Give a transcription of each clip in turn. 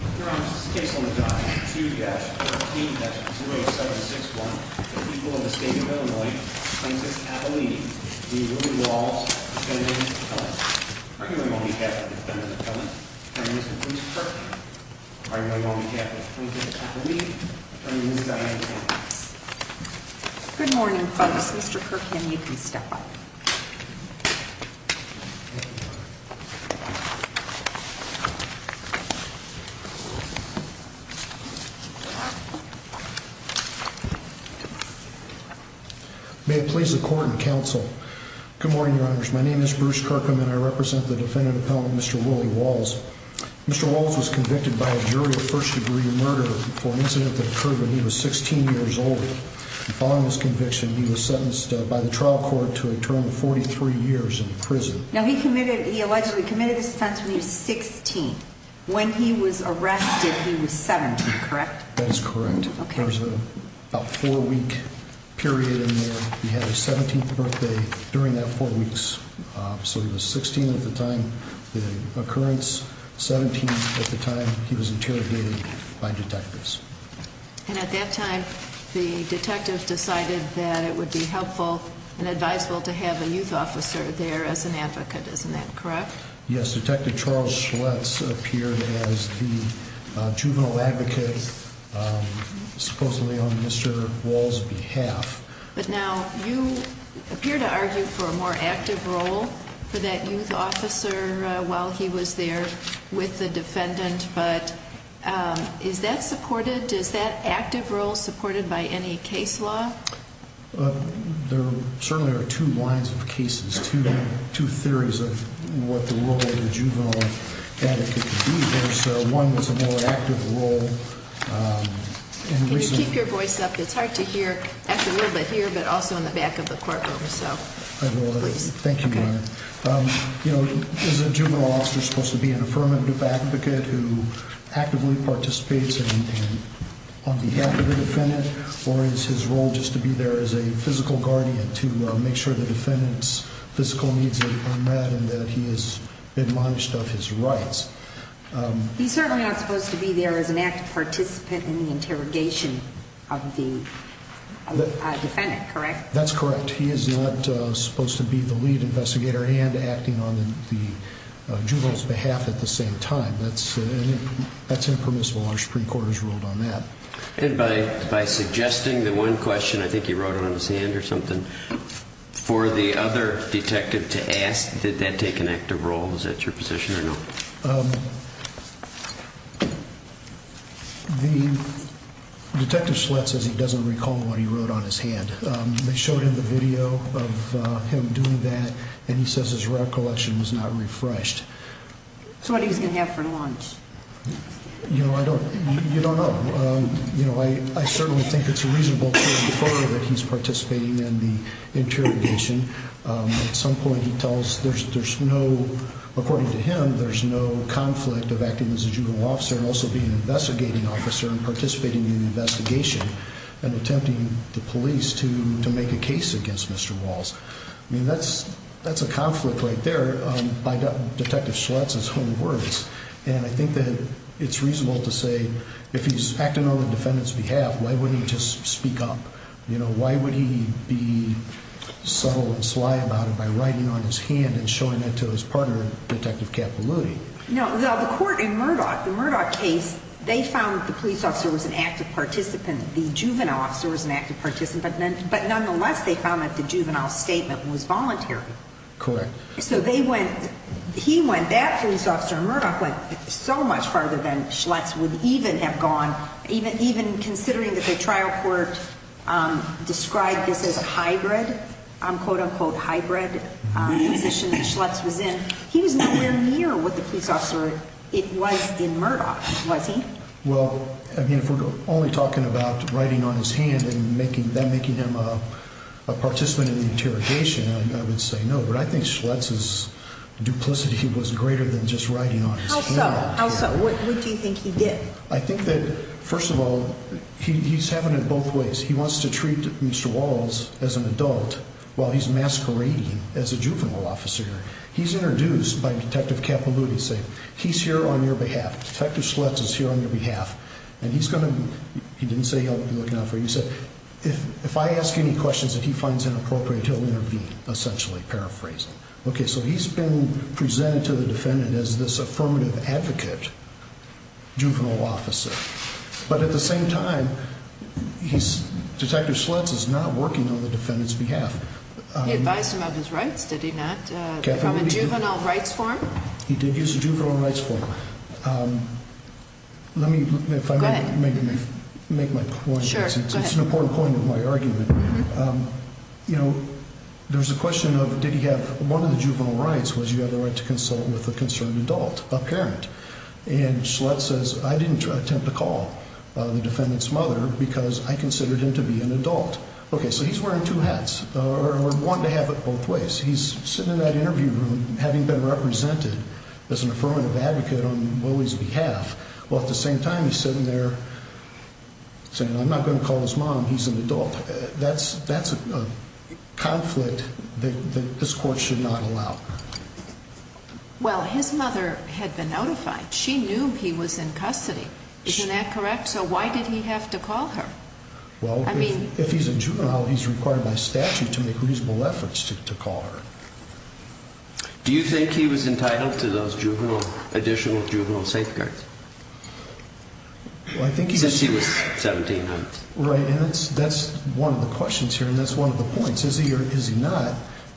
2-13-0761, the people of the state of Illinois, Plaintiff's Appellee, v. Willie Walls, Defendant's Appellant, arguing on behalf of the Defendant's Appellant, v. Mr. Bruce Kirkham, arguing on behalf of Plaintiff's Appellee, v. Ms. Diane Campos. Good morning folks, Mr. Kirkham, you can stop. May it please the court and counsel, good morning your honors, my name is Bruce Kirkham and I represent the Defendant's Appellant, Mr. Willie Walls. Mr. Walls was convicted by a jury of first degree murder for an incident that occurred when he was 16 years old. Following his conviction, he was sentenced by the trial court to a term of 43 years in prison. Now he allegedly committed the offense when he was 16, when he was arrested he was 17, correct? That is correct. There was about a four week period in there. He had his 17th birthday during that four weeks. So he was 16 at the time of the occurrence, 17 at the time he was interrogated by detectives. And at that time, the detectives decided that it would be helpful and advisable to have a youth officer there as an advocate, isn't that correct? Yes, Detective Charles Schultz appeared as the juvenile advocate, supposedly on Mr. Walls' behalf. But now you appear to argue for a more active role for that youth officer while he was there with the defendant, but is that supported? Is that active role supported by any case law? There certainly are two lines of cases, two theories of what the role of the juvenile advocate would be. There's one that's a more active role. Can you keep your voice up? It's hard to hear. Actually a little bit here, but also in the back of the courtroom. Thank you, Your Honor. Is a juvenile officer supposed to be an affirmative advocate who actively participates on behalf of the defendant? Or is his role just to be there as a physical guardian to make sure the defendant's physical needs are met and that he is admonished of his rights? He's certainly not supposed to be there as an active participant in the interrogation of the defendant, correct? That's correct. He is not supposed to be the lead investigator and acting on the juvenile's behalf at the same time. That's impermissible. Our Supreme Court has ruled on that. And by suggesting the one question, I think he wrote on his hand or something, for the other detective to ask, did that take an active role? Is that your position or no? Detective Schlatt says he doesn't recall what he wrote on his hand. They showed him the video of him doing that, and he says his recollection was not refreshed. So what are you going to have for lunch? You know, I don't, you don't know. You know, I certainly think it's a reasonable case that he's participating in the interrogation. At some point he tells, there's no, according to him, there's no conflict of acting as a juvenile officer and also being an investigating officer and participating in the investigation and attempting the police to make a case against Mr. Walls. I mean, that's a conflict right there by Detective Schlatt's own words. And I think that it's reasonable to say if he's acting on the defendant's behalf, why wouldn't he just speak up? You know, why would he be subtle and sly about it by writing on his hand and showing that to his partner, Detective Capilouti? No, the court in Murdoch, the Murdoch case, they found that the police officer was an active participant. The juvenile officer was an active participant. But nonetheless, they found that the juvenile statement was voluntary. Correct. So they went, he went, that police officer in Murdoch went so much farther than Schlatt's would even have gone, even considering that the trial court described this as a hybrid, quote, unquote, hybrid position that Schlatt's was in. He was nowhere near what the police officer, it was in Murdoch, was he? Well, I mean, if we're only talking about writing on his hand and making, then making him a participant in the interrogation, I would say no. But I think Schlatt's duplicity was greater than just writing on his hand. How so? How so? What do you think he did? I think that, first of all, he's having it both ways. He wants to treat Mr. Walls as an adult while he's masquerading as a juvenile officer. He's introduced by Detective Capilouti saying, he's here on your behalf. Detective Schlatt's is here on your behalf. And he's going to, he didn't say he'll be looking out for you. He said, if I ask any questions that he finds inappropriate, he'll intervene, essentially, paraphrasing. Okay, so he's been presented to the defendant as this affirmative advocate, juvenile officer. But at the same time, he's, Detective Schlatt's is not working on the defendant's behalf. He advised him of his rights, did he not? From a juvenile rights form? He did use a juvenile rights form. Let me, if I may, make my point. Sure, go ahead. It's an important point of my argument. You know, there's a question of, did he have, one of the juvenile rights was you had the right to consult with a concerned adult, a parent. And Schlatt says, I didn't attempt to call the defendant's mother because I considered him to be an adult. Okay, so he's wearing two hats, or wanting to have it both ways. He's sitting in that interview room, having been represented as an affirmative advocate on Willie's behalf. Well, at the same time, he's sitting there saying, I'm not going to call his mom, he's an adult. That's a conflict that this court should not allow. Well, his mother had been notified. She knew he was in custody. Isn't that correct? So why did he have to call her? Well, if he's a juvenile, he's required by statute to make reasonable efforts to call her. Do you think he was entitled to those additional juvenile safeguards? Since he was 17, right? Right, and that's one of the questions here, and that's one of the points. Is he or is he not?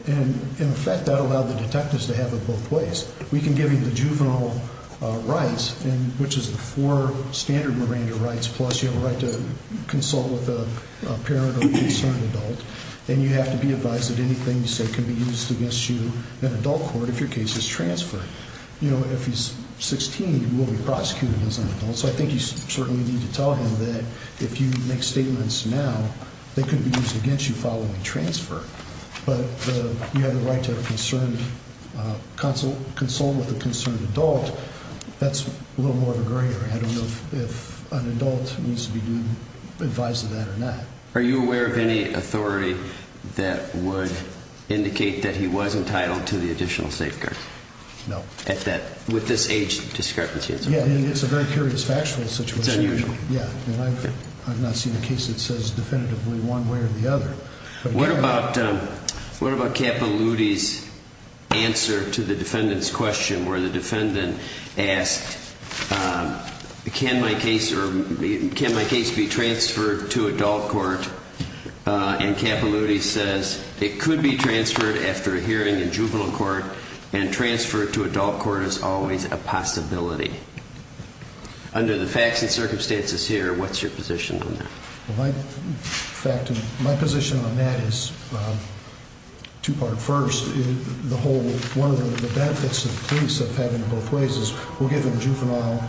And, in fact, that allowed the detectives to have it both ways. We can give you the juvenile rights, which is the four standard Miranda rights, plus you have a right to consult with a parent or a concerned adult, and you have to be advised that anything you say can be used against you in adult court if your case is transferred. If he's 16, he will be prosecuted as an adult, so I think you certainly need to tell him that if you make statements now, they can be used against you following transfer. But you have the right to consult with a concerned adult. That's a little more of a gray area. I don't know if an adult needs to be advised of that or not. Are you aware of any authority that would indicate that he was entitled to the additional safeguard? No. With this age discrepancy? Yeah, and it's a very curious factual situation. It's unusual. Yeah, and I've not seen a case that says definitively one way or the other. What about Capilouthi's answer to the defendant's question where the defendant asked, can my case be transferred to adult court? And Capilouthi says it could be transferred after a hearing in juvenile court, and transfer to adult court is always a possibility. Under the facts and circumstances here, what's your position on that? In fact, my position on that is two-part. First, one of the benefits that the police have had in both ways is we'll give him juvenile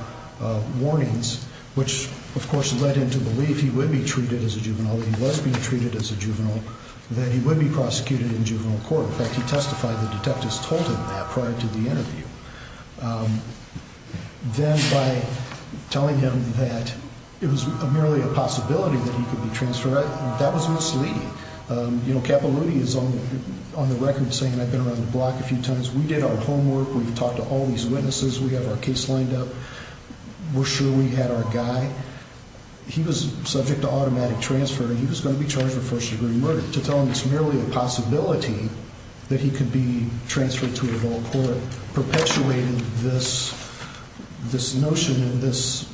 warnings, which, of course, led him to believe he would be treated as a juvenile, that he was being treated as a juvenile, that he would be prosecuted in juvenile court. In fact, he testified. The detectives told him that prior to the interview. Then by telling him that it was merely a possibility that he could be transferred, that was misleading. You know, Capilouthi is on the record saying, I've been around the block a few times. We did our homework. We've talked to all these witnesses. We have our case lined up. We're sure we had our guy. He was subject to automatic transfer, and he was going to be charged with first-degree murder. To tell him it's merely a possibility that he could be transferred to a dual court perpetuated this notion and this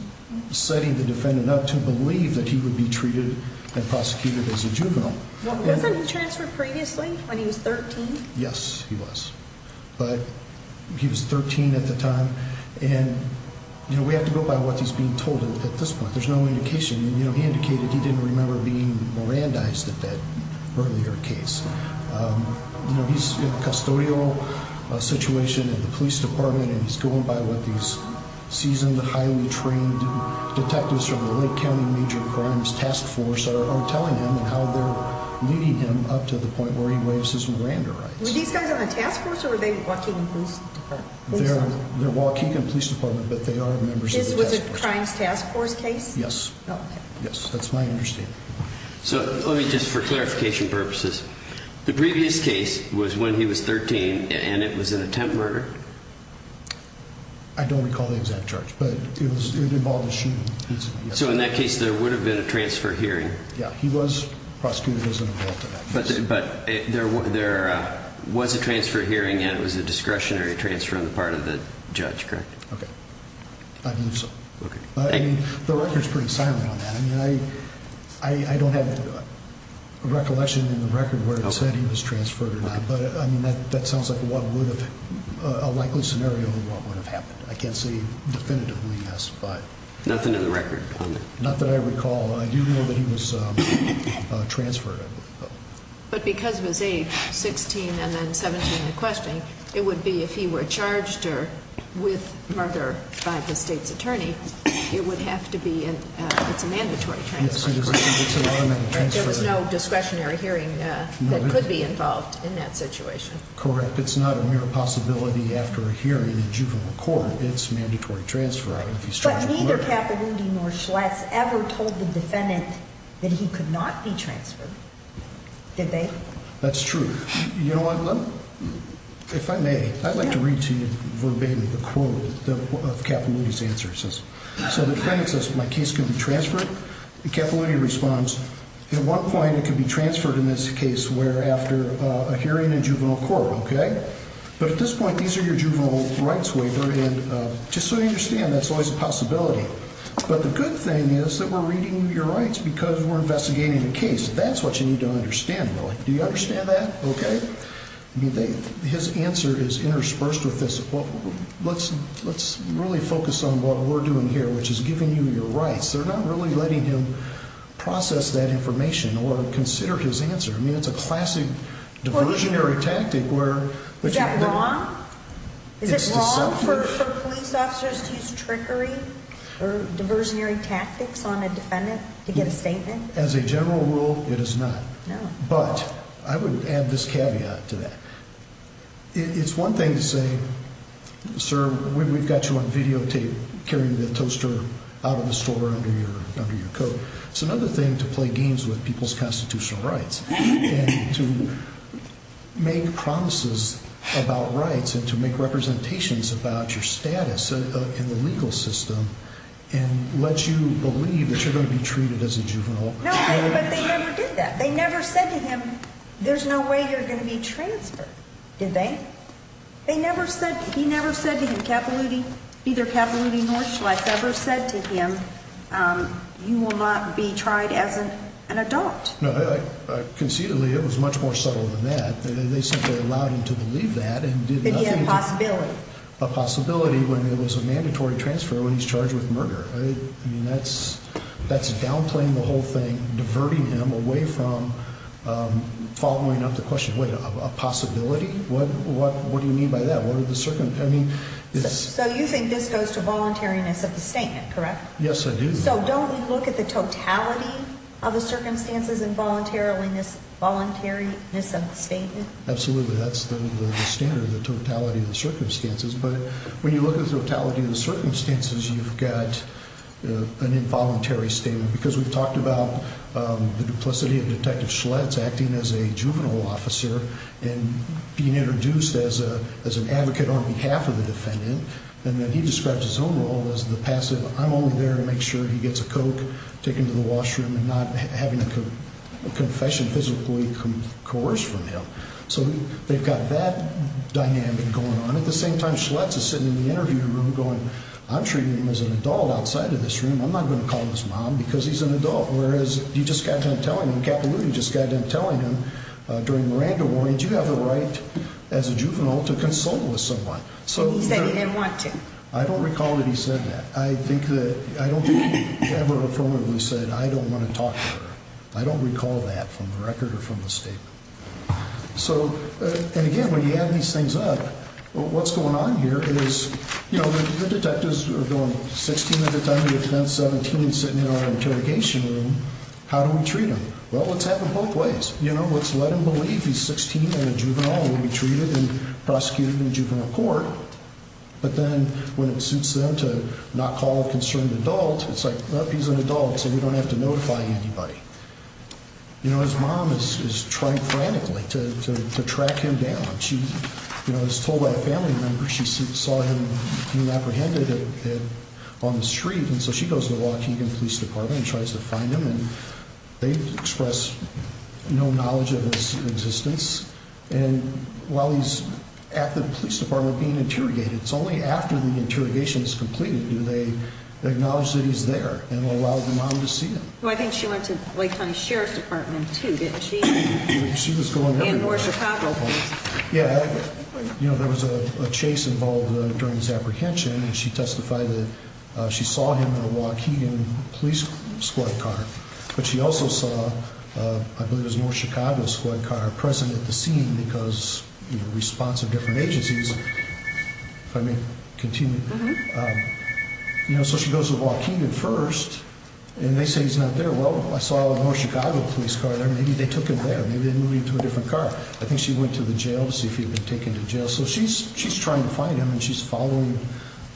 setting the defendant up to believe that he would be treated and prosecuted as a juvenile. Wasn't he transferred previously when he was 13? Yes, he was, but he was 13 at the time. And, you know, we have to go by what he's being told at this point. There's no indication. You know, he indicated he didn't remember being Mirandized at that earlier case. You know, he's in a custodial situation at the police department, and he's going by what these seasoned, highly trained detectives from the Lake County Major Crimes Task Force are telling him and how they're leading him up to the point where he waives his Miranda rights. Were these guys on the task force, or were they Waukegan Police Department? They're Waukegan Police Department, but they are members of the task force. This was a Crimes Task Force case? Yes. Yes, that's my understanding. So let me just, for clarification purposes, the previous case was when he was 13, and it was an attempt murder? I don't recall the exact charge, but it involved a shooting incident. So in that case, there would have been a transfer hearing? Yeah, he was prosecuted as an adult in that case. But there was a transfer hearing, and it was a discretionary transfer on the part of the judge, correct? Okay, I believe so. I mean, the record's pretty silent on that. I mean, I don't have a recollection in the record where it said he was transferred or not, but, I mean, that sounds like a likely scenario of what would have happened. I can't say definitively, yes, but. Nothing in the record on that? Not that I recall. I do know that he was transferred. But because of his age, 16 and then 17 and questioning, it would be if he were charged with murder by the state's attorney, it would have to be, it's a mandatory transfer. Yes, it's a mandatory transfer. There was no discretionary hearing that could be involved in that situation. Correct. It's not a mere possibility after a hearing in a juvenile court. It's mandatory transfer if he's charged with murder. But neither Capilouthi nor Schlatz ever told the defendant that he could not be transferred, did they? That's true. You know what, Glenn? If I may, I'd like to read to you verbatim the quote of Capilouthi's answer. So the defendant says, my case could be transferred. Capilouthi responds, at one point it could be transferred in this case where after a hearing in juvenile court, okay? But at this point, these are your juvenile rights waiver, and just so you understand, that's always a possibility. But the good thing is that we're reading your rights because we're investigating the case. That's what you need to understand, really. Do you understand that? Okay. I mean, his answer is interspersed with this. Let's really focus on what we're doing here, which is giving you your rights. They're not really letting him process that information or consider his answer. I mean, it's a classic diversionary tactic. Is that wrong? Is it wrong for police officers to use trickery or diversionary tactics on a defendant to get a statement? As a general rule, it is not. No. But I would add this caveat to that. It's one thing to say, sir, we've got you on videotape carrying the toaster out of the store under your coat. It's another thing to play games with people's constitutional rights and to make promises about rights and to make representations about your status in the legal system and let you believe that you're going to be treated as a juvenile. No, but they never did that. They never said to him, there's no way you're going to be transferred, did they? They never said, he never said to him, Capilouti, neither Capilouti nor Schless ever said to him, you will not be tried as an adult. No, conceitedly it was much more subtle than that. They simply allowed him to believe that and did nothing. But he had a possibility. A possibility when it was a mandatory transfer when he's charged with murder. I mean, that's downplaying the whole thing, diverting him away from following up the question. A possibility? What do you mean by that? So you think this goes to voluntariness of the statement, correct? Yes, I do. So don't we look at the totality of the circumstances and voluntariness of the statement? Absolutely. That's the standard, the totality of the circumstances. But when you look at the totality of the circumstances, you've got an involuntary statement. Because we've talked about the duplicity of Detective Schless acting as a juvenile officer and being introduced as an advocate on behalf of the defendant. And then he describes his own role as the passive, I'm only there to make sure he gets a Coke, take him to the washroom and not having a confession physically coerced from him. So they've got that dynamic going on. At the same time, Schless is sitting in the interview room going, I'm treating him as an adult outside of this room. I'm not going to call him his mom because he's an adult. Whereas you just got done telling him, Capilouto just got done telling him during Miranda Ward, you have a right as a juvenile to consult with someone. He said he didn't want to. I don't recall that he said that. I don't think he ever affirmatively said, I don't want to talk to her. I don't recall that from the record or from the statement. So, and again, when you add these things up, what's going on here is, you know, the detectives are doing 16 under 17 sitting in our interrogation room. How do we treat him? Well, let's have them both ways. You know, let's let him believe he's 16 and a juvenile will be treated and prosecuted in juvenile court. But then when it suits them to not call a concerned adult, it's like, he's an adult. So we don't have to notify anybody. You know, his mom is trying frantically to track him down. She, you know, was told by a family member she saw him being apprehended on the street. And so she goes to the Waukegan Police Department and tries to find him. And they express no knowledge of his existence. And while he's at the police department being interrogated, it's only after the interrogation is completed do they acknowledge that he's there and allow the mom to see him. Well, I think she went to Lake County Sheriff's Department, too, didn't she? She was going there. And North Chicago Police. Yeah. You know, there was a chase involved during his apprehension. And she testified that she saw him in a Waukegan police squad car. But she also saw, I believe it was North Chicago squad car, present at the scene because, you know, response of different agencies. If I may continue. Mm-hmm. And they say he's not there. Well, I saw a North Chicago police car there. Maybe they took him there. Maybe they moved him to a different car. I think she went to the jail to see if he had been taken to jail. So she's trying to find him, and she's following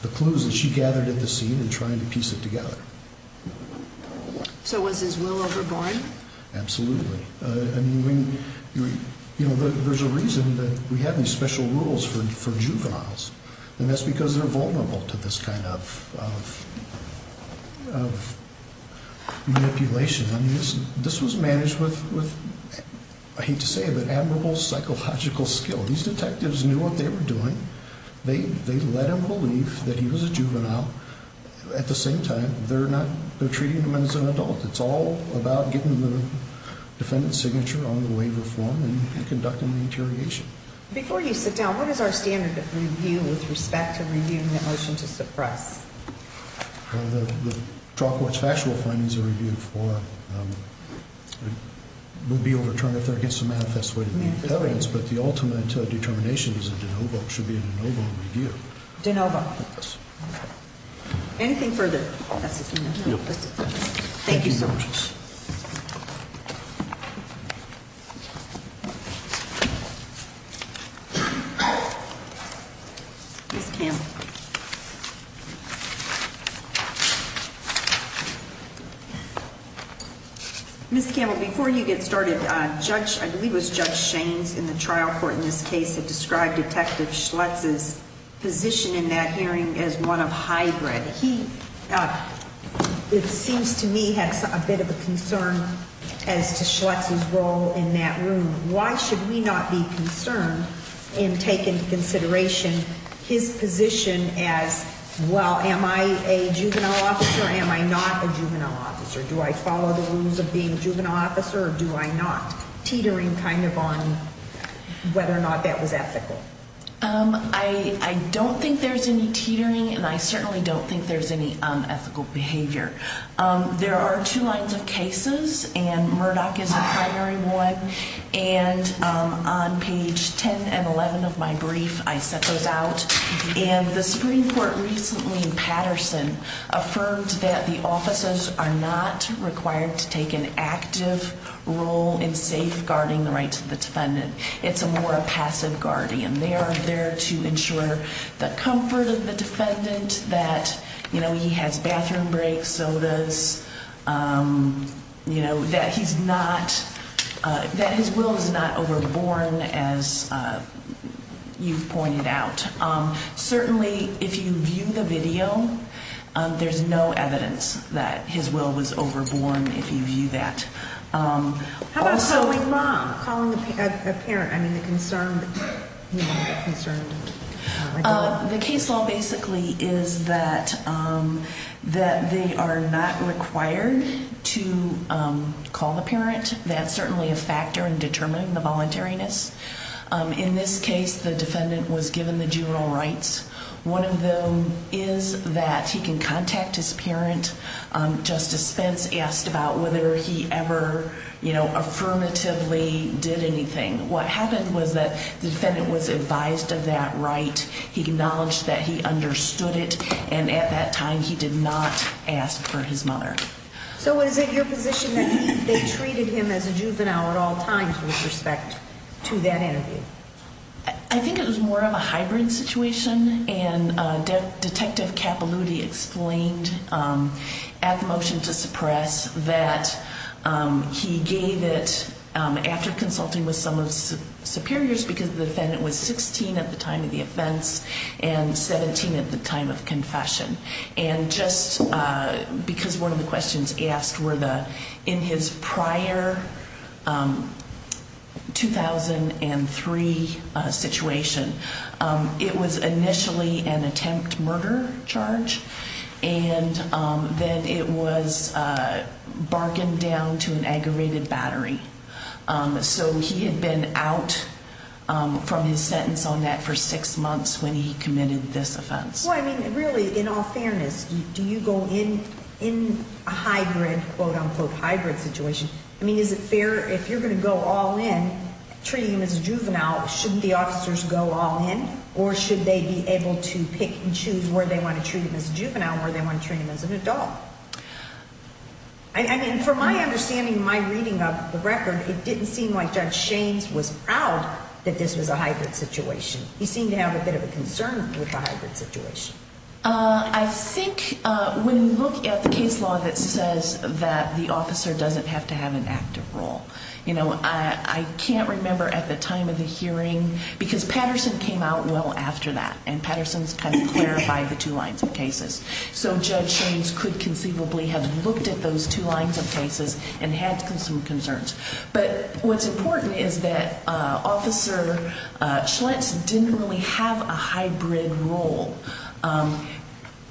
the clues that she gathered at the scene and trying to piece it together. So was his will overborne? Absolutely. I mean, there's a reason that we have these special rules for juveniles, and that's because they're vulnerable to this kind of manipulation. I mean, this was managed with, I hate to say it, but admirable psychological skill. These detectives knew what they were doing. They let him believe that he was a juvenile. At the same time, they're treating him as an adult. It's all about getting the defendant's signature on the waiver form and conducting the interrogation. Before you sit down, what is our standard of review with respect to reviewing the motion to suppress? Well, the trial court's factual findings are reviewed for. It would be overturned if they're against the manifest way to make evidence. But the ultimate determination is a de novo, should be a de novo review. De novo. Yes. Okay. Anything further? That's it. Thank you. Ms. Campbell, before you get started, I believe it was Judge Shaines in the trial court in this case that described Detective Schlutz's position in that hearing as one of hybrid. He, it seems to me, had a bit of a concern as to Schlutz's role in that room. Why should we not be concerned and take into consideration his position as, well, am I a juvenile officer? Am I not a juvenile officer? Do I follow the rules of being a juvenile officer or do I not? Teetering kind of on whether or not that was ethical. I don't think there's any teetering, and I certainly don't think there's any unethical behavior. There are two lines of cases, and Murdoch is a primary one. And on page 10 and 11 of my brief, I set those out. And the Supreme Court recently in Patterson affirmed that the offices are not required to take an active role in safeguarding the rights of the defendant. It's a more passive guardian. They are there to ensure the comfort of the defendant, that, you know, he has bathroom breaks, sodas, you know, that he's not, that his will is not overborn, as you've pointed out. Certainly, if you view the video, there's no evidence that his will was overborn, if you view that. How about calling the mom, calling the parent? I mean, the concerned woman, the concerned adult. The case law basically is that they are not required to call the parent. That's certainly a factor in determining the voluntariness. In this case, the defendant was given the juvenile rights. One of them is that he can contact his parent. Justice Spence asked about whether he ever, you know, affirmatively did anything. What happened was that the defendant was advised of that right. He acknowledged that he understood it. And at that time, he did not ask for his mother. So is it your position that they treated him as a juvenile at all times with respect to that interview? I think it was more of a hybrid situation. And Detective Capaluti explained at the motion to suppress that he gave it after consulting with some of the superiors because the defendant was 16 at the time of the offense and 17 at the time of confession. And just because one of the questions asked were in his prior 2003 situation, it was initially an attempt murder charge. And then it was bargained down to an aggravated battery. So he had been out from his sentence on that for six months when he committed this offense. Well, I mean, really, in all fairness, do you go in a hybrid, quote, unquote, hybrid situation? I mean, is it fair if you're going to go all in treating him as a juvenile, shouldn't the officers go all in? Or should they be able to pick and choose where they want to treat him as a juvenile, where they want to treat him as an adult? I mean, from my understanding, my reading of the record, it didn't seem like Judge Shaines was proud that this was a hybrid situation. He seemed to have a bit of a concern with a hybrid situation. I think when you look at the case law that says that the officer doesn't have to have an active role, you know, I can't remember at the time of the hearing because Patterson came out well after that, and Patterson's kind of clarified the two lines of cases. So Judge Shaines could conceivably have looked at those two lines of cases and had some concerns. But what's important is that Officer Schlitz didn't really have a hybrid role.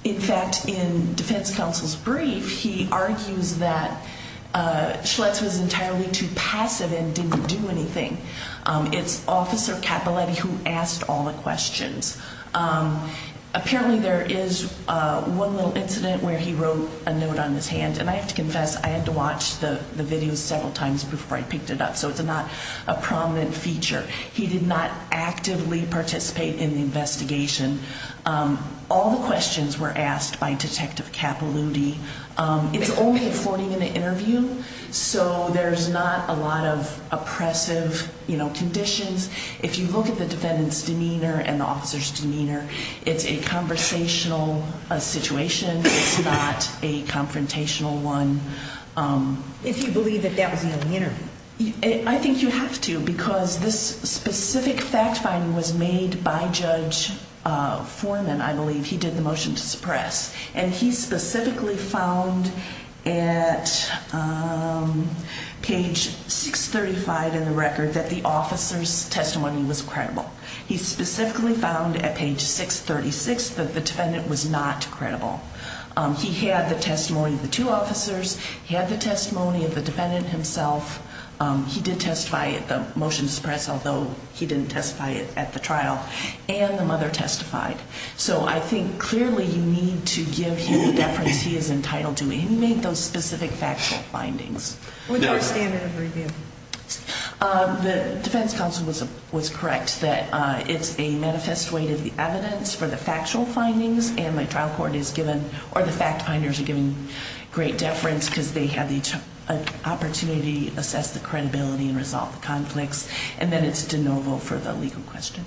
In fact, in defense counsel's brief, he argues that Schlitz was entirely too passive and didn't do anything. It's Officer Capiletti who asked all the questions. Apparently, there is one little incident where he wrote a note on his hand, and I have to confess, I had to watch the video several times before I picked it up, so it's not a prominent feature. He did not actively participate in the investigation. All the questions were asked by Detective Capiletti. It's only a 40-minute interview, so there's not a lot of oppressive conditions. If you look at the defendant's demeanor and the officer's demeanor, it's a conversational situation. It's not a confrontational one. If you believe that that was the only interview. I think you have to because this specific fact-finding was made by Judge Foreman, I believe. He did the motion to suppress, and he specifically found at page 635 in the record that the officer's testimony was credible. He specifically found at page 636 that the defendant was not credible. He had the testimony of the two officers. He had the testimony of the defendant himself. He did testify at the motion to suppress, although he didn't testify at the trial. And the mother testified. So I think clearly you need to give him the deference he is entitled to. And he made those specific factual findings. What's your standard of review? The defense counsel was correct that it's a manifest weight of the evidence for the factual findings, and my trial court is given, or the fact-finders are given great deference because they have the opportunity to assess the credibility and resolve the conflicts, and then it's de novo for the legal question.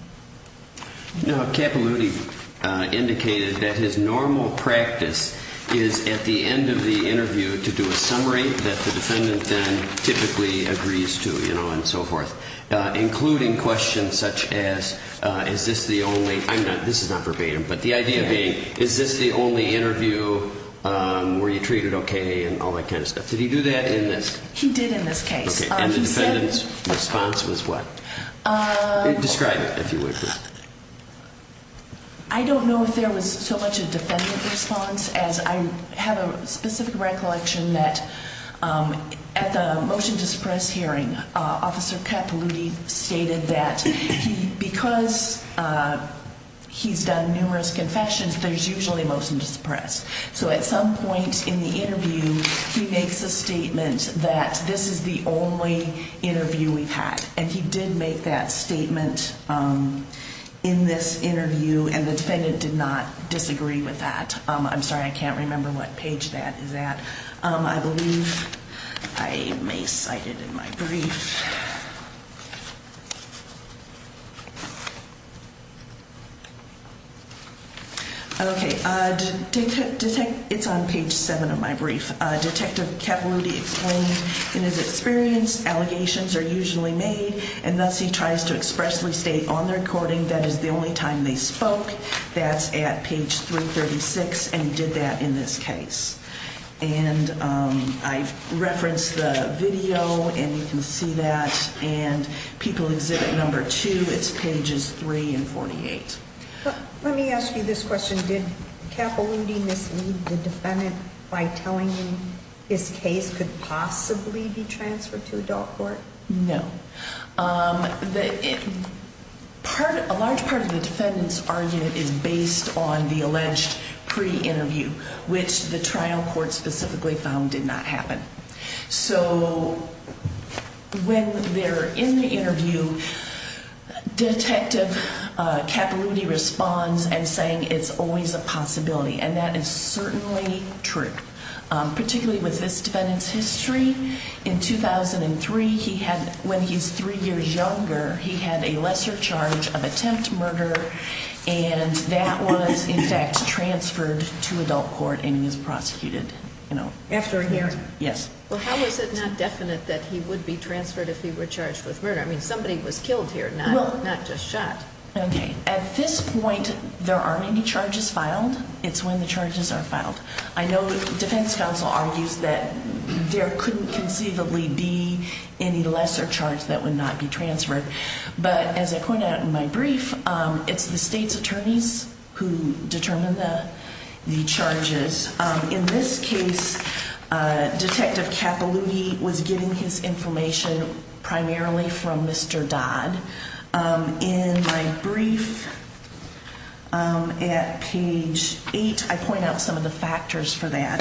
Now, Capilouthi indicated that his normal practice is at the end of the interview to do a summary that the defendant then typically agrees to, you know, and so forth, including questions such as, is this the only, I'm not, this is not verbatim, but the idea being, is this the only interview where you treated okay and all that kind of stuff? Did he do that in this? He did in this case. Okay, and the defendant's response was what? Describe it, if you would, please. I don't know if there was so much a defendant response as I have a specific recollection that at the motion to suppress hearing, Officer Capilouthi stated that because he's done numerous confessions, there's usually a motion to suppress. So at some point in the interview, he makes a statement that this is the only interview we've had, and he did make that statement in this interview, and the defendant did not disagree with that. I'm sorry, I can't remember what page that is at. I believe I may cite it in my brief. Okay, it's on page seven of my brief. Detective Capilouthi explained in his experience, allegations are usually made, and thus he tries to expressly state on the recording that is the only time they spoke. That's at page 336, and he did that in this case. And I referenced the video, and you can see that, and people exhibit number two. It's pages three and 48. Let me ask you this question. Did Capilouthi mislead the defendant by telling him his case could possibly be transferred to adult court? No. A large part of the defendant's argument is based on the alleged pre-interview, which the trial court specifically found did not happen. So when they're in the interview, Detective Capilouthi responds and saying it's always a possibility, and that is certainly true, particularly with this defendant's history. In 2003, when he's three years younger, he had a lesser charge of attempt murder, and that was, in fact, transferred to adult court, and he was prosecuted. After a year? Yes. Well, how is it not definite that he would be transferred if he were charged with murder? I mean, somebody was killed here, not just shot. Okay. At this point, there are many charges filed. It's when the charges are filed. I know the defense counsel argues that there couldn't conceivably be any lesser charge that would not be transferred, but as I pointed out in my brief, it's the state's attorneys who determine the charges. In this case, Detective Capilouthi was getting his information primarily from Mr. Dodd. In my brief at page 8, I point out some of the factors for that.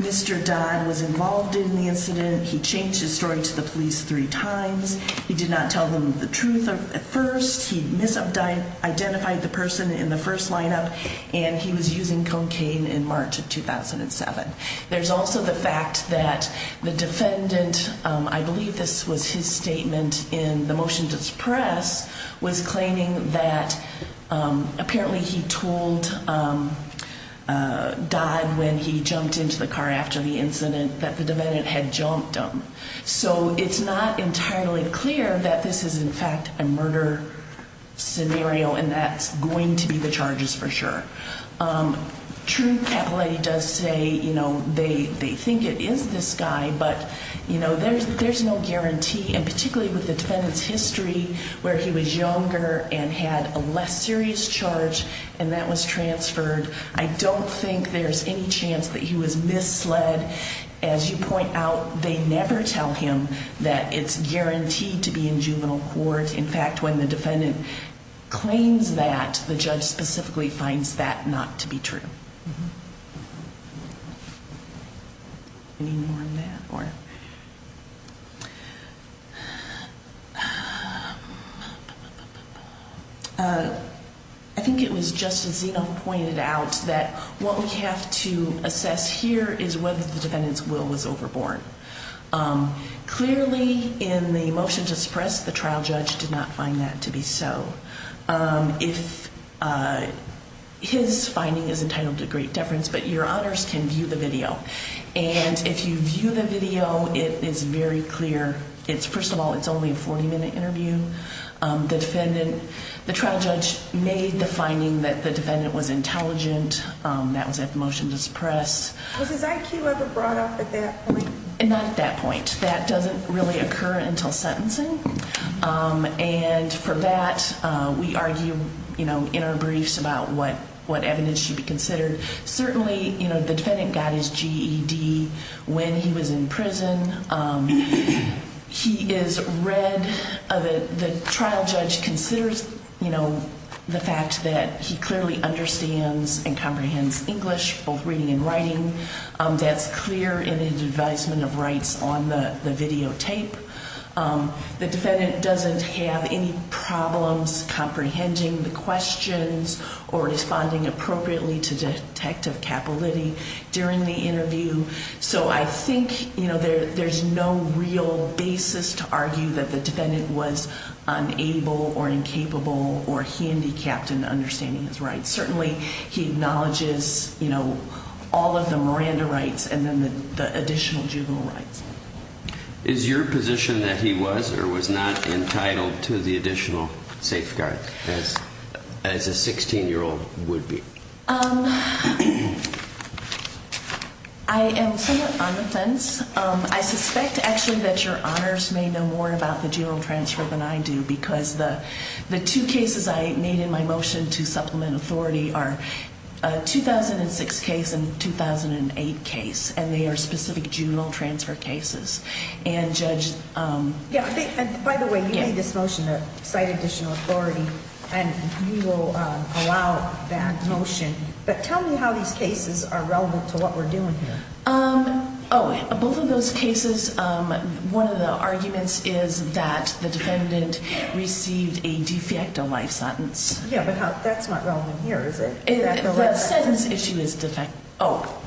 Mr. Dodd was involved in the incident. He changed his story to the police three times. He did not tell them the truth at first. He misidentified the person in the first lineup, and he was using cocaine in March of 2007. There's also the fact that the defendant, I believe this was his statement in the motion to suppress, was claiming that apparently he told Dodd when he jumped into the car after the incident that the defendant had jumped him. So it's not entirely clear that this is, in fact, a murder scenario, and that's going to be the charges for sure. Truth Capilouthi does say, you know, they think it is this guy, but, you know, there's no guarantee, and particularly with the defendant's history where he was younger and had a less serious charge and that was transferred, I don't think there's any chance that he was misled. As you point out, they never tell him that it's guaranteed to be in juvenile court. In fact, when the defendant claims that, the judge specifically finds that not to be true. Any more on that? I think it was Justice Zeno who pointed out that what we have to assess here is whether the defendant's will was overborne. Clearly in the motion to suppress, the trial judge did not find that to be so. His finding is entitled to great deference, but your honors can view the video. And if you view the video, it is very clear. First of all, it's only a 40-minute interview. The trial judge made the finding that the defendant was intelligent. That was at the motion to suppress. Was his IQ ever brought up at that point? Not at that point. That doesn't really occur until sentencing. And for that, we argue in our briefs about what evidence should be considered. Certainly, the defendant got his GED when he was in prison. The trial judge considers the fact that he clearly understands and comprehends English, both reading and writing. That's clear in his advisement of rights on the videotape. The defendant doesn't have any problems comprehending the questions or responding appropriately to Detective Capolitti during the interview. So I think there's no real basis to argue that the defendant was unable or incapable or handicapped in understanding his rights. Certainly, he acknowledges all of the Miranda rights and then the additional juvenile rights. Is your position that he was or was not entitled to the additional safeguards as a 16-year-old would be? I am somewhat on the fence. I suspect, actually, that your honors may know more about the juvenile transfer than I do because the two cases I made in my motion to supplement authority are a 2006 case and a 2008 case, and they are specific juvenile transfer cases. By the way, you made this motion to cite additional authority, and you will allow that motion. But tell me how these cases are relevant to what we're doing here. Both of those cases, one of the arguments is that the defendant received a de facto life sentence. Yeah, but that's not relevant here, is it? The sentence issue is de facto. Oh,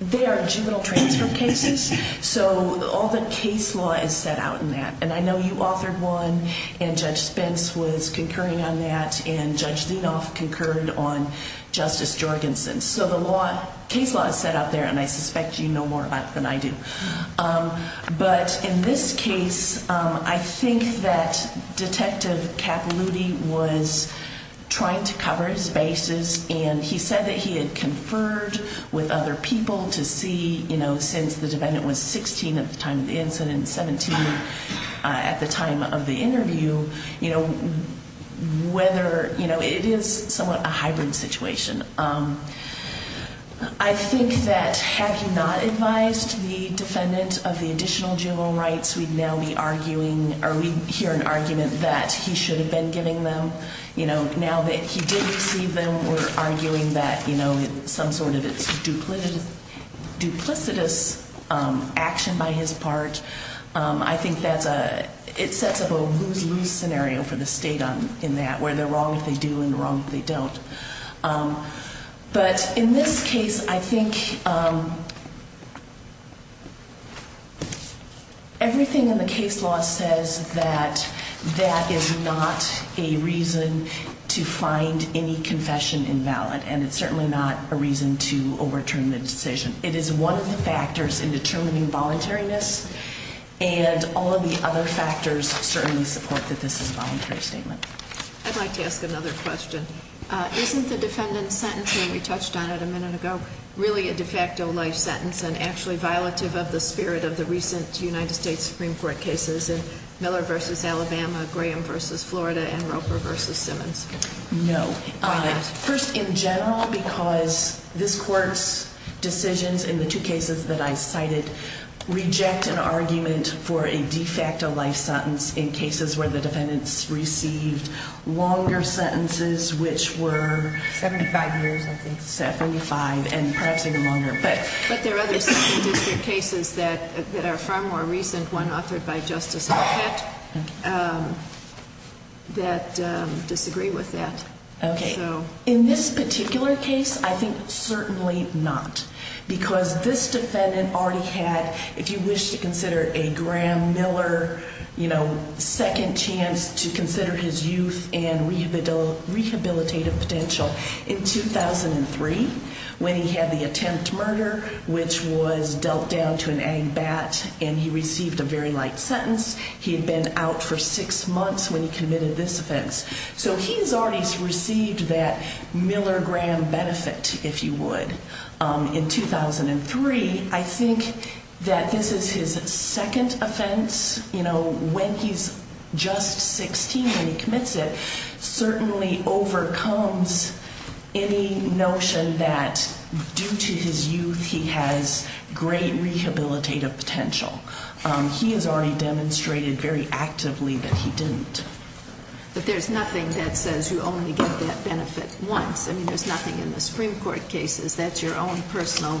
they are juvenile transfer cases, so all the case law is set out in that. And I know you authored one, and Judge Spence was concurring on that, and Judge Zinoff concurred on Justice Jorgensen. So the case law is set out there, and I suspect you know more about it than I do. But in this case, I think that Detective Capilouthi was trying to cover his bases, and he said that he had conferred with other people to see, you know, since the defendant was 16 at the time of the incident and 17 at the time of the interview, you know, whether, you know, it is somewhat a hybrid situation. I think that had he not advised the defendant of the additional juvenile rights, we'd now be arguing, or we'd hear an argument that he should have been giving them. You know, now that he did receive them, we're arguing that, you know, some sort of duplicitous action by his part. I think that's a, it sets up a lose-lose scenario for the state in that, where they're wrong if they do and wrong if they don't. But in this case, I think everything in the case law says that that is not a reason to find any confession invalid, and it's certainly not a reason to overturn the decision. It is one of the factors in determining voluntariness, and all of the other factors certainly support that this is a voluntary statement. I'd like to ask another question. Isn't the defendant's sentence, when we touched on it a minute ago, really a de facto life sentence and actually violative of the spirit of the recent United States Supreme Court cases, Miller v. Alabama, Graham v. Florida, and Roper v. Simmons? No. Why not? First, in general, because this Court's decisions in the two cases that I cited reject an argument for a de facto life sentence in cases where the defendants received longer sentences, which were... 75 years, I think. 75, and perhaps even longer. But there are other second-district cases that are far more recent, one authored by Justice Alcott, that disagree with that. Okay. In this particular case, I think certainly not. Because this defendant already had, if you wish to consider it, a Graham-Miller second chance to consider his youth and rehabilitative potential. In 2003, when he had the attempt murder, which was dealt down to an ANG-BAT, and he received a very light sentence, he had been out for six months when he committed this offense. So he has already received that Miller-Graham benefit, if you would, in 2003. I think that this is his second offense. You know, when he's just 16 when he commits it, certainly overcomes any notion that due to his youth, he has great rehabilitative potential. He has already demonstrated very actively that he didn't. But there's nothing that says you only get that benefit once. I mean, there's nothing in the Supreme Court cases. That's your own personal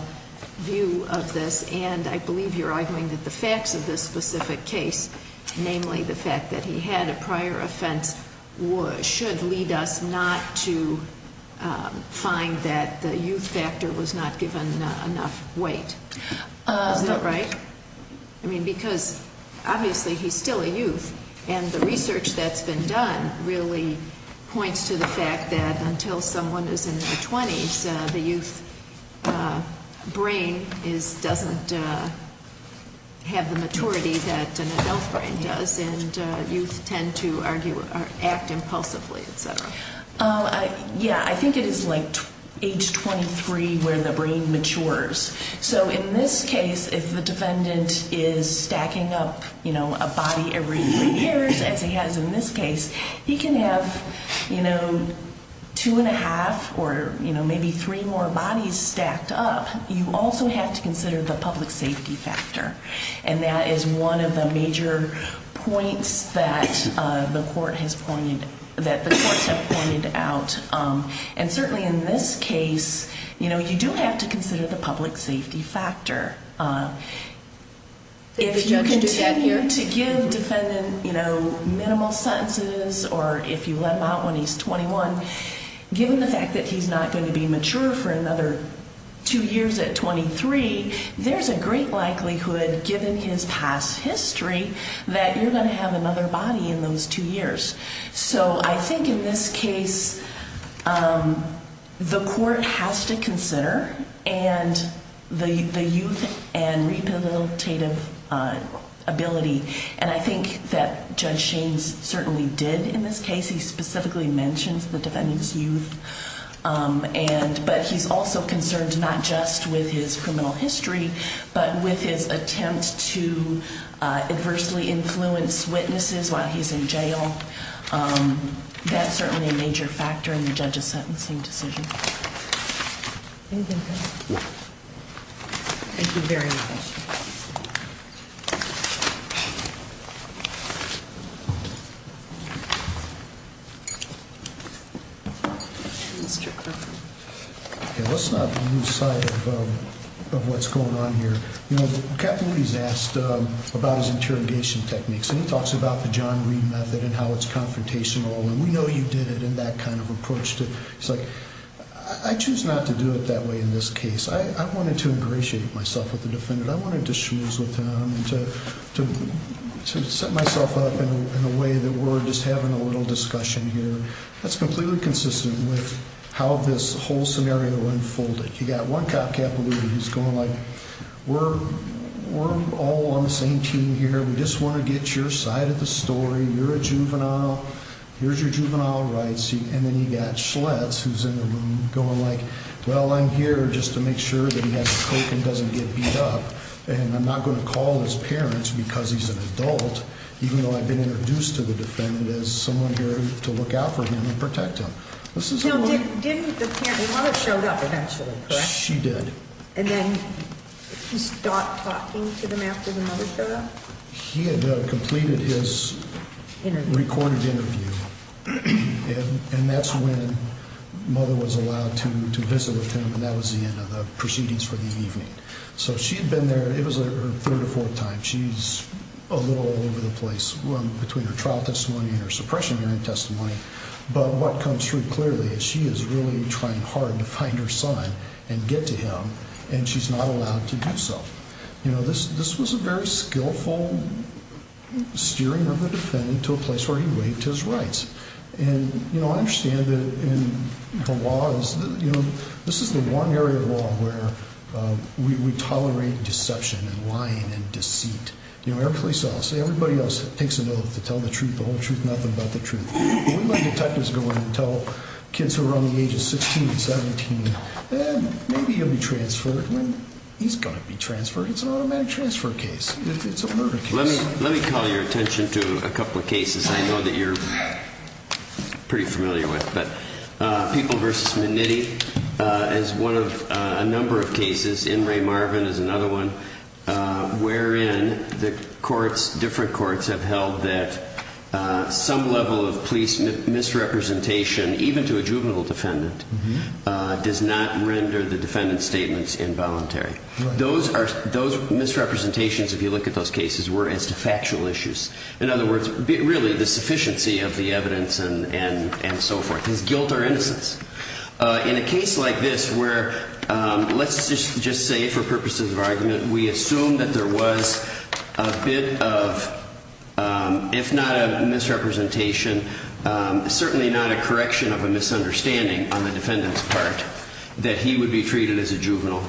view of this. And I believe you're arguing that the facts of this specific case, namely the fact that he had a prior offense, should lead us not to find that the youth factor was not given enough weight. Is that right? I mean, because obviously he's still a youth. And the research that's been done really points to the fact that until someone is in their 20s, the youth brain doesn't have the maturity that an adult brain does. And youth tend to act impulsively, et cetera. Yeah, I think it is like age 23 where the brain matures. So in this case, if the defendant is stacking up a body every three years, as he has in this case, he can have two and a half or maybe three more bodies stacked up. You also have to consider the public safety factor. And that is one of the major points that the courts have pointed out. And certainly in this case, you do have to consider the public safety factor. If you continue to give defendant minimal sentences or if you let him out when he's 21, given the fact that he's not going to be mature for another two years at 23, there's a great likelihood, given his past history, that you're going to have another body in those two years. So I think in this case, the court has to consider the youth and rehabilitative ability. And I think that Judge Shaines certainly did in this case. He specifically mentions the defendant's youth. But he's also concerned not just with his criminal history, but with his attempt to adversely influence witnesses while he's in jail. That's certainly a major factor in the judge's sentencing decision. Anything else? No. Thank you very much. Mr. Crawford. Let's not lose sight of what's going on here. You know, Capilouthi's asked about his interrogation techniques, and he talks about the John Reed method and how it's confrontational, and we know you did it in that kind of approach. He's like, I choose not to do it that way in this case. I wanted to ingratiate myself with the defendant. I wanted to choose with him and to set myself up in a way that we're just having a little discussion here. That's completely consistent with how this whole scenario unfolded. You've got one cop, Capilouthi, who's going like, we're all on the same team here. We just want to get your side of the story. You're a juvenile. Here's your juvenile rights. And then you've got Schletz, who's in the room going like, well, I'm here just to make sure that he has a coke and doesn't get beat up, and I'm not going to call his parents because he's an adult, even though I've been introduced to the defendant as someone here to look out for him and protect him. No, didn't the mother show up eventually, correct? She did. And then he stopped talking to them after the mother showed up? He had completed his recorded interview, and that's when mother was allowed to visit with him, and that was the end of the proceedings for the evening. So she had been there. It was her third or fourth time. She's a little all over the place between her trial testimony and her suppression hearing testimony. But what comes through clearly is she is really trying hard to find her son and get to him, and she's not allowed to do so. You know, this was a very skillful steering of the defendant to a place where he waived his rights. And, you know, I understand that in the laws, you know, this is the one area of law where we tolerate deception and lying and deceit. You know, everybody else takes an oath to tell the truth, the whole truth, nothing but the truth. We let detectives go in and tell kids who are around the age of 16, 17, eh, maybe he'll be transferred. I mean, he's going to be transferred. It's an automatic transfer case. It's a murder case. Let me call your attention to a couple of cases I know that you're pretty familiar with. But People v. McNitty is one of a number of cases. N. Ray Marvin is another one wherein the courts, different courts, have held that some level of police misrepresentation, even to a juvenile defendant, does not render the defendant's statements involuntary. Those are those misrepresentations, if you look at those cases, were as to factual issues. In other words, really the sufficiency of the evidence and so forth is guilt or innocence. In a case like this where, let's just say for purposes of argument, we assume that there was a bit of, if not a misrepresentation, certainly not a correction of a misunderstanding on the defendant's part, that he would be treated as a juvenile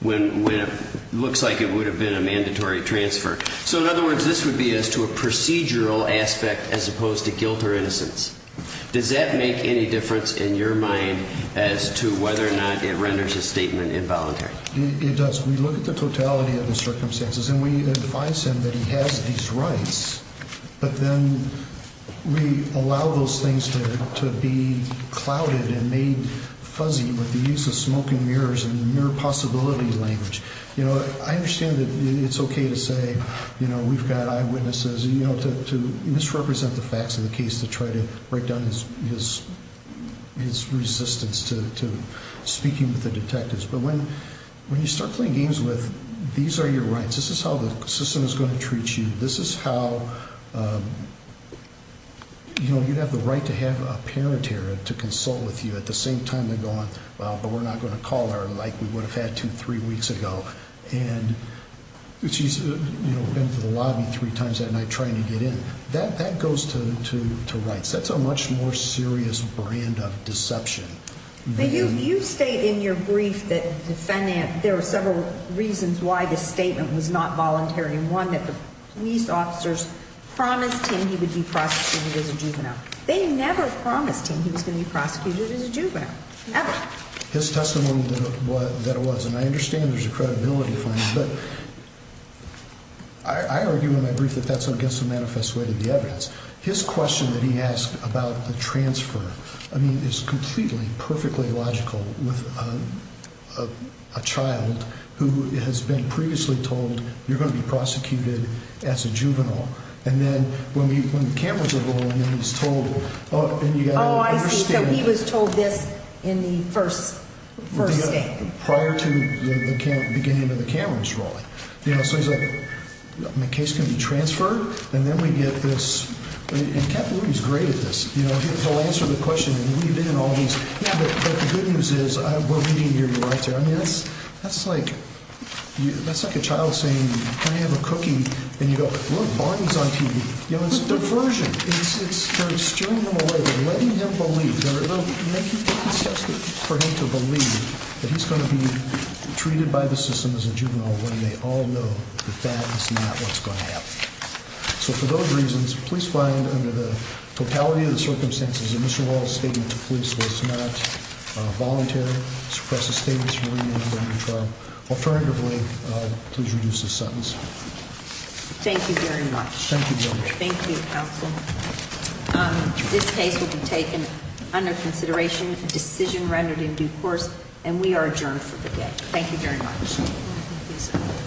when it looks like it would have been a mandatory transfer. So, in other words, this would be as to a procedural aspect as opposed to guilt or innocence. Does that make any difference in your mind as to whether or not it renders a statement involuntary? It does. We look at the totality of the circumstances and we advise him that he has these rights, but then we allow those things to be clouded and made fuzzy with the use of smoke and mirrors and the mere possibility language. I understand that it's okay to say we've got eyewitnesses to misrepresent the facts of the case to try to break down his resistance to speaking with the detectives. But when you start playing games with these are your rights, this is how the system is going to treat you. This is how, you know, you have the right to have a parent here to consult with you at the same time they're going, well, but we're not going to call her like we would have had to three weeks ago. And she's, you know, been to the lobby three times that night trying to get in. That goes to rights. That's a much more serious brand of deception. You state in your brief that there were several reasons why this statement was not voluntary. One, that the police officers promised him he would be prosecuted as a juvenile. They never promised him he was going to be prosecuted as a juvenile. Never. His testimony that it was, and I understand there's a credibility fine, but I argue in my brief that that's against the manifest way to the evidence. His question that he asked about the transfer, I mean, is completely, perfectly logical with a child who has been previously told you're going to be prosecuted as a juvenile. And then when the cameras are rolling and he's told, and you've got to understand. Oh, I see, so he was told this in the first state. Prior to the beginning of the cameras rolling. You know, so he's like, my case can be transferred. And then we get this. And he's great at this. You know, he'll answer the question and we've been in all these. But the good news is we're reading your, your right there. I mean, that's, that's like, that's like a child saying, can I have a cookie? And you go, look, Barney's on TV. You know, it's diversion. Letting him believe that he's going to be treated by the system as a juvenile. When they all know that that is not what's going to happen. So for those reasons, please find under the totality of the circumstances and Mr. Wall's statement to police was not voluntary. Suppress the statements. Alternatively, please reduce the sentence. Thank you very much. Thank you. This case will be taken under consideration decision rendered in due course, and we are adjourned for the day. Thank you very much.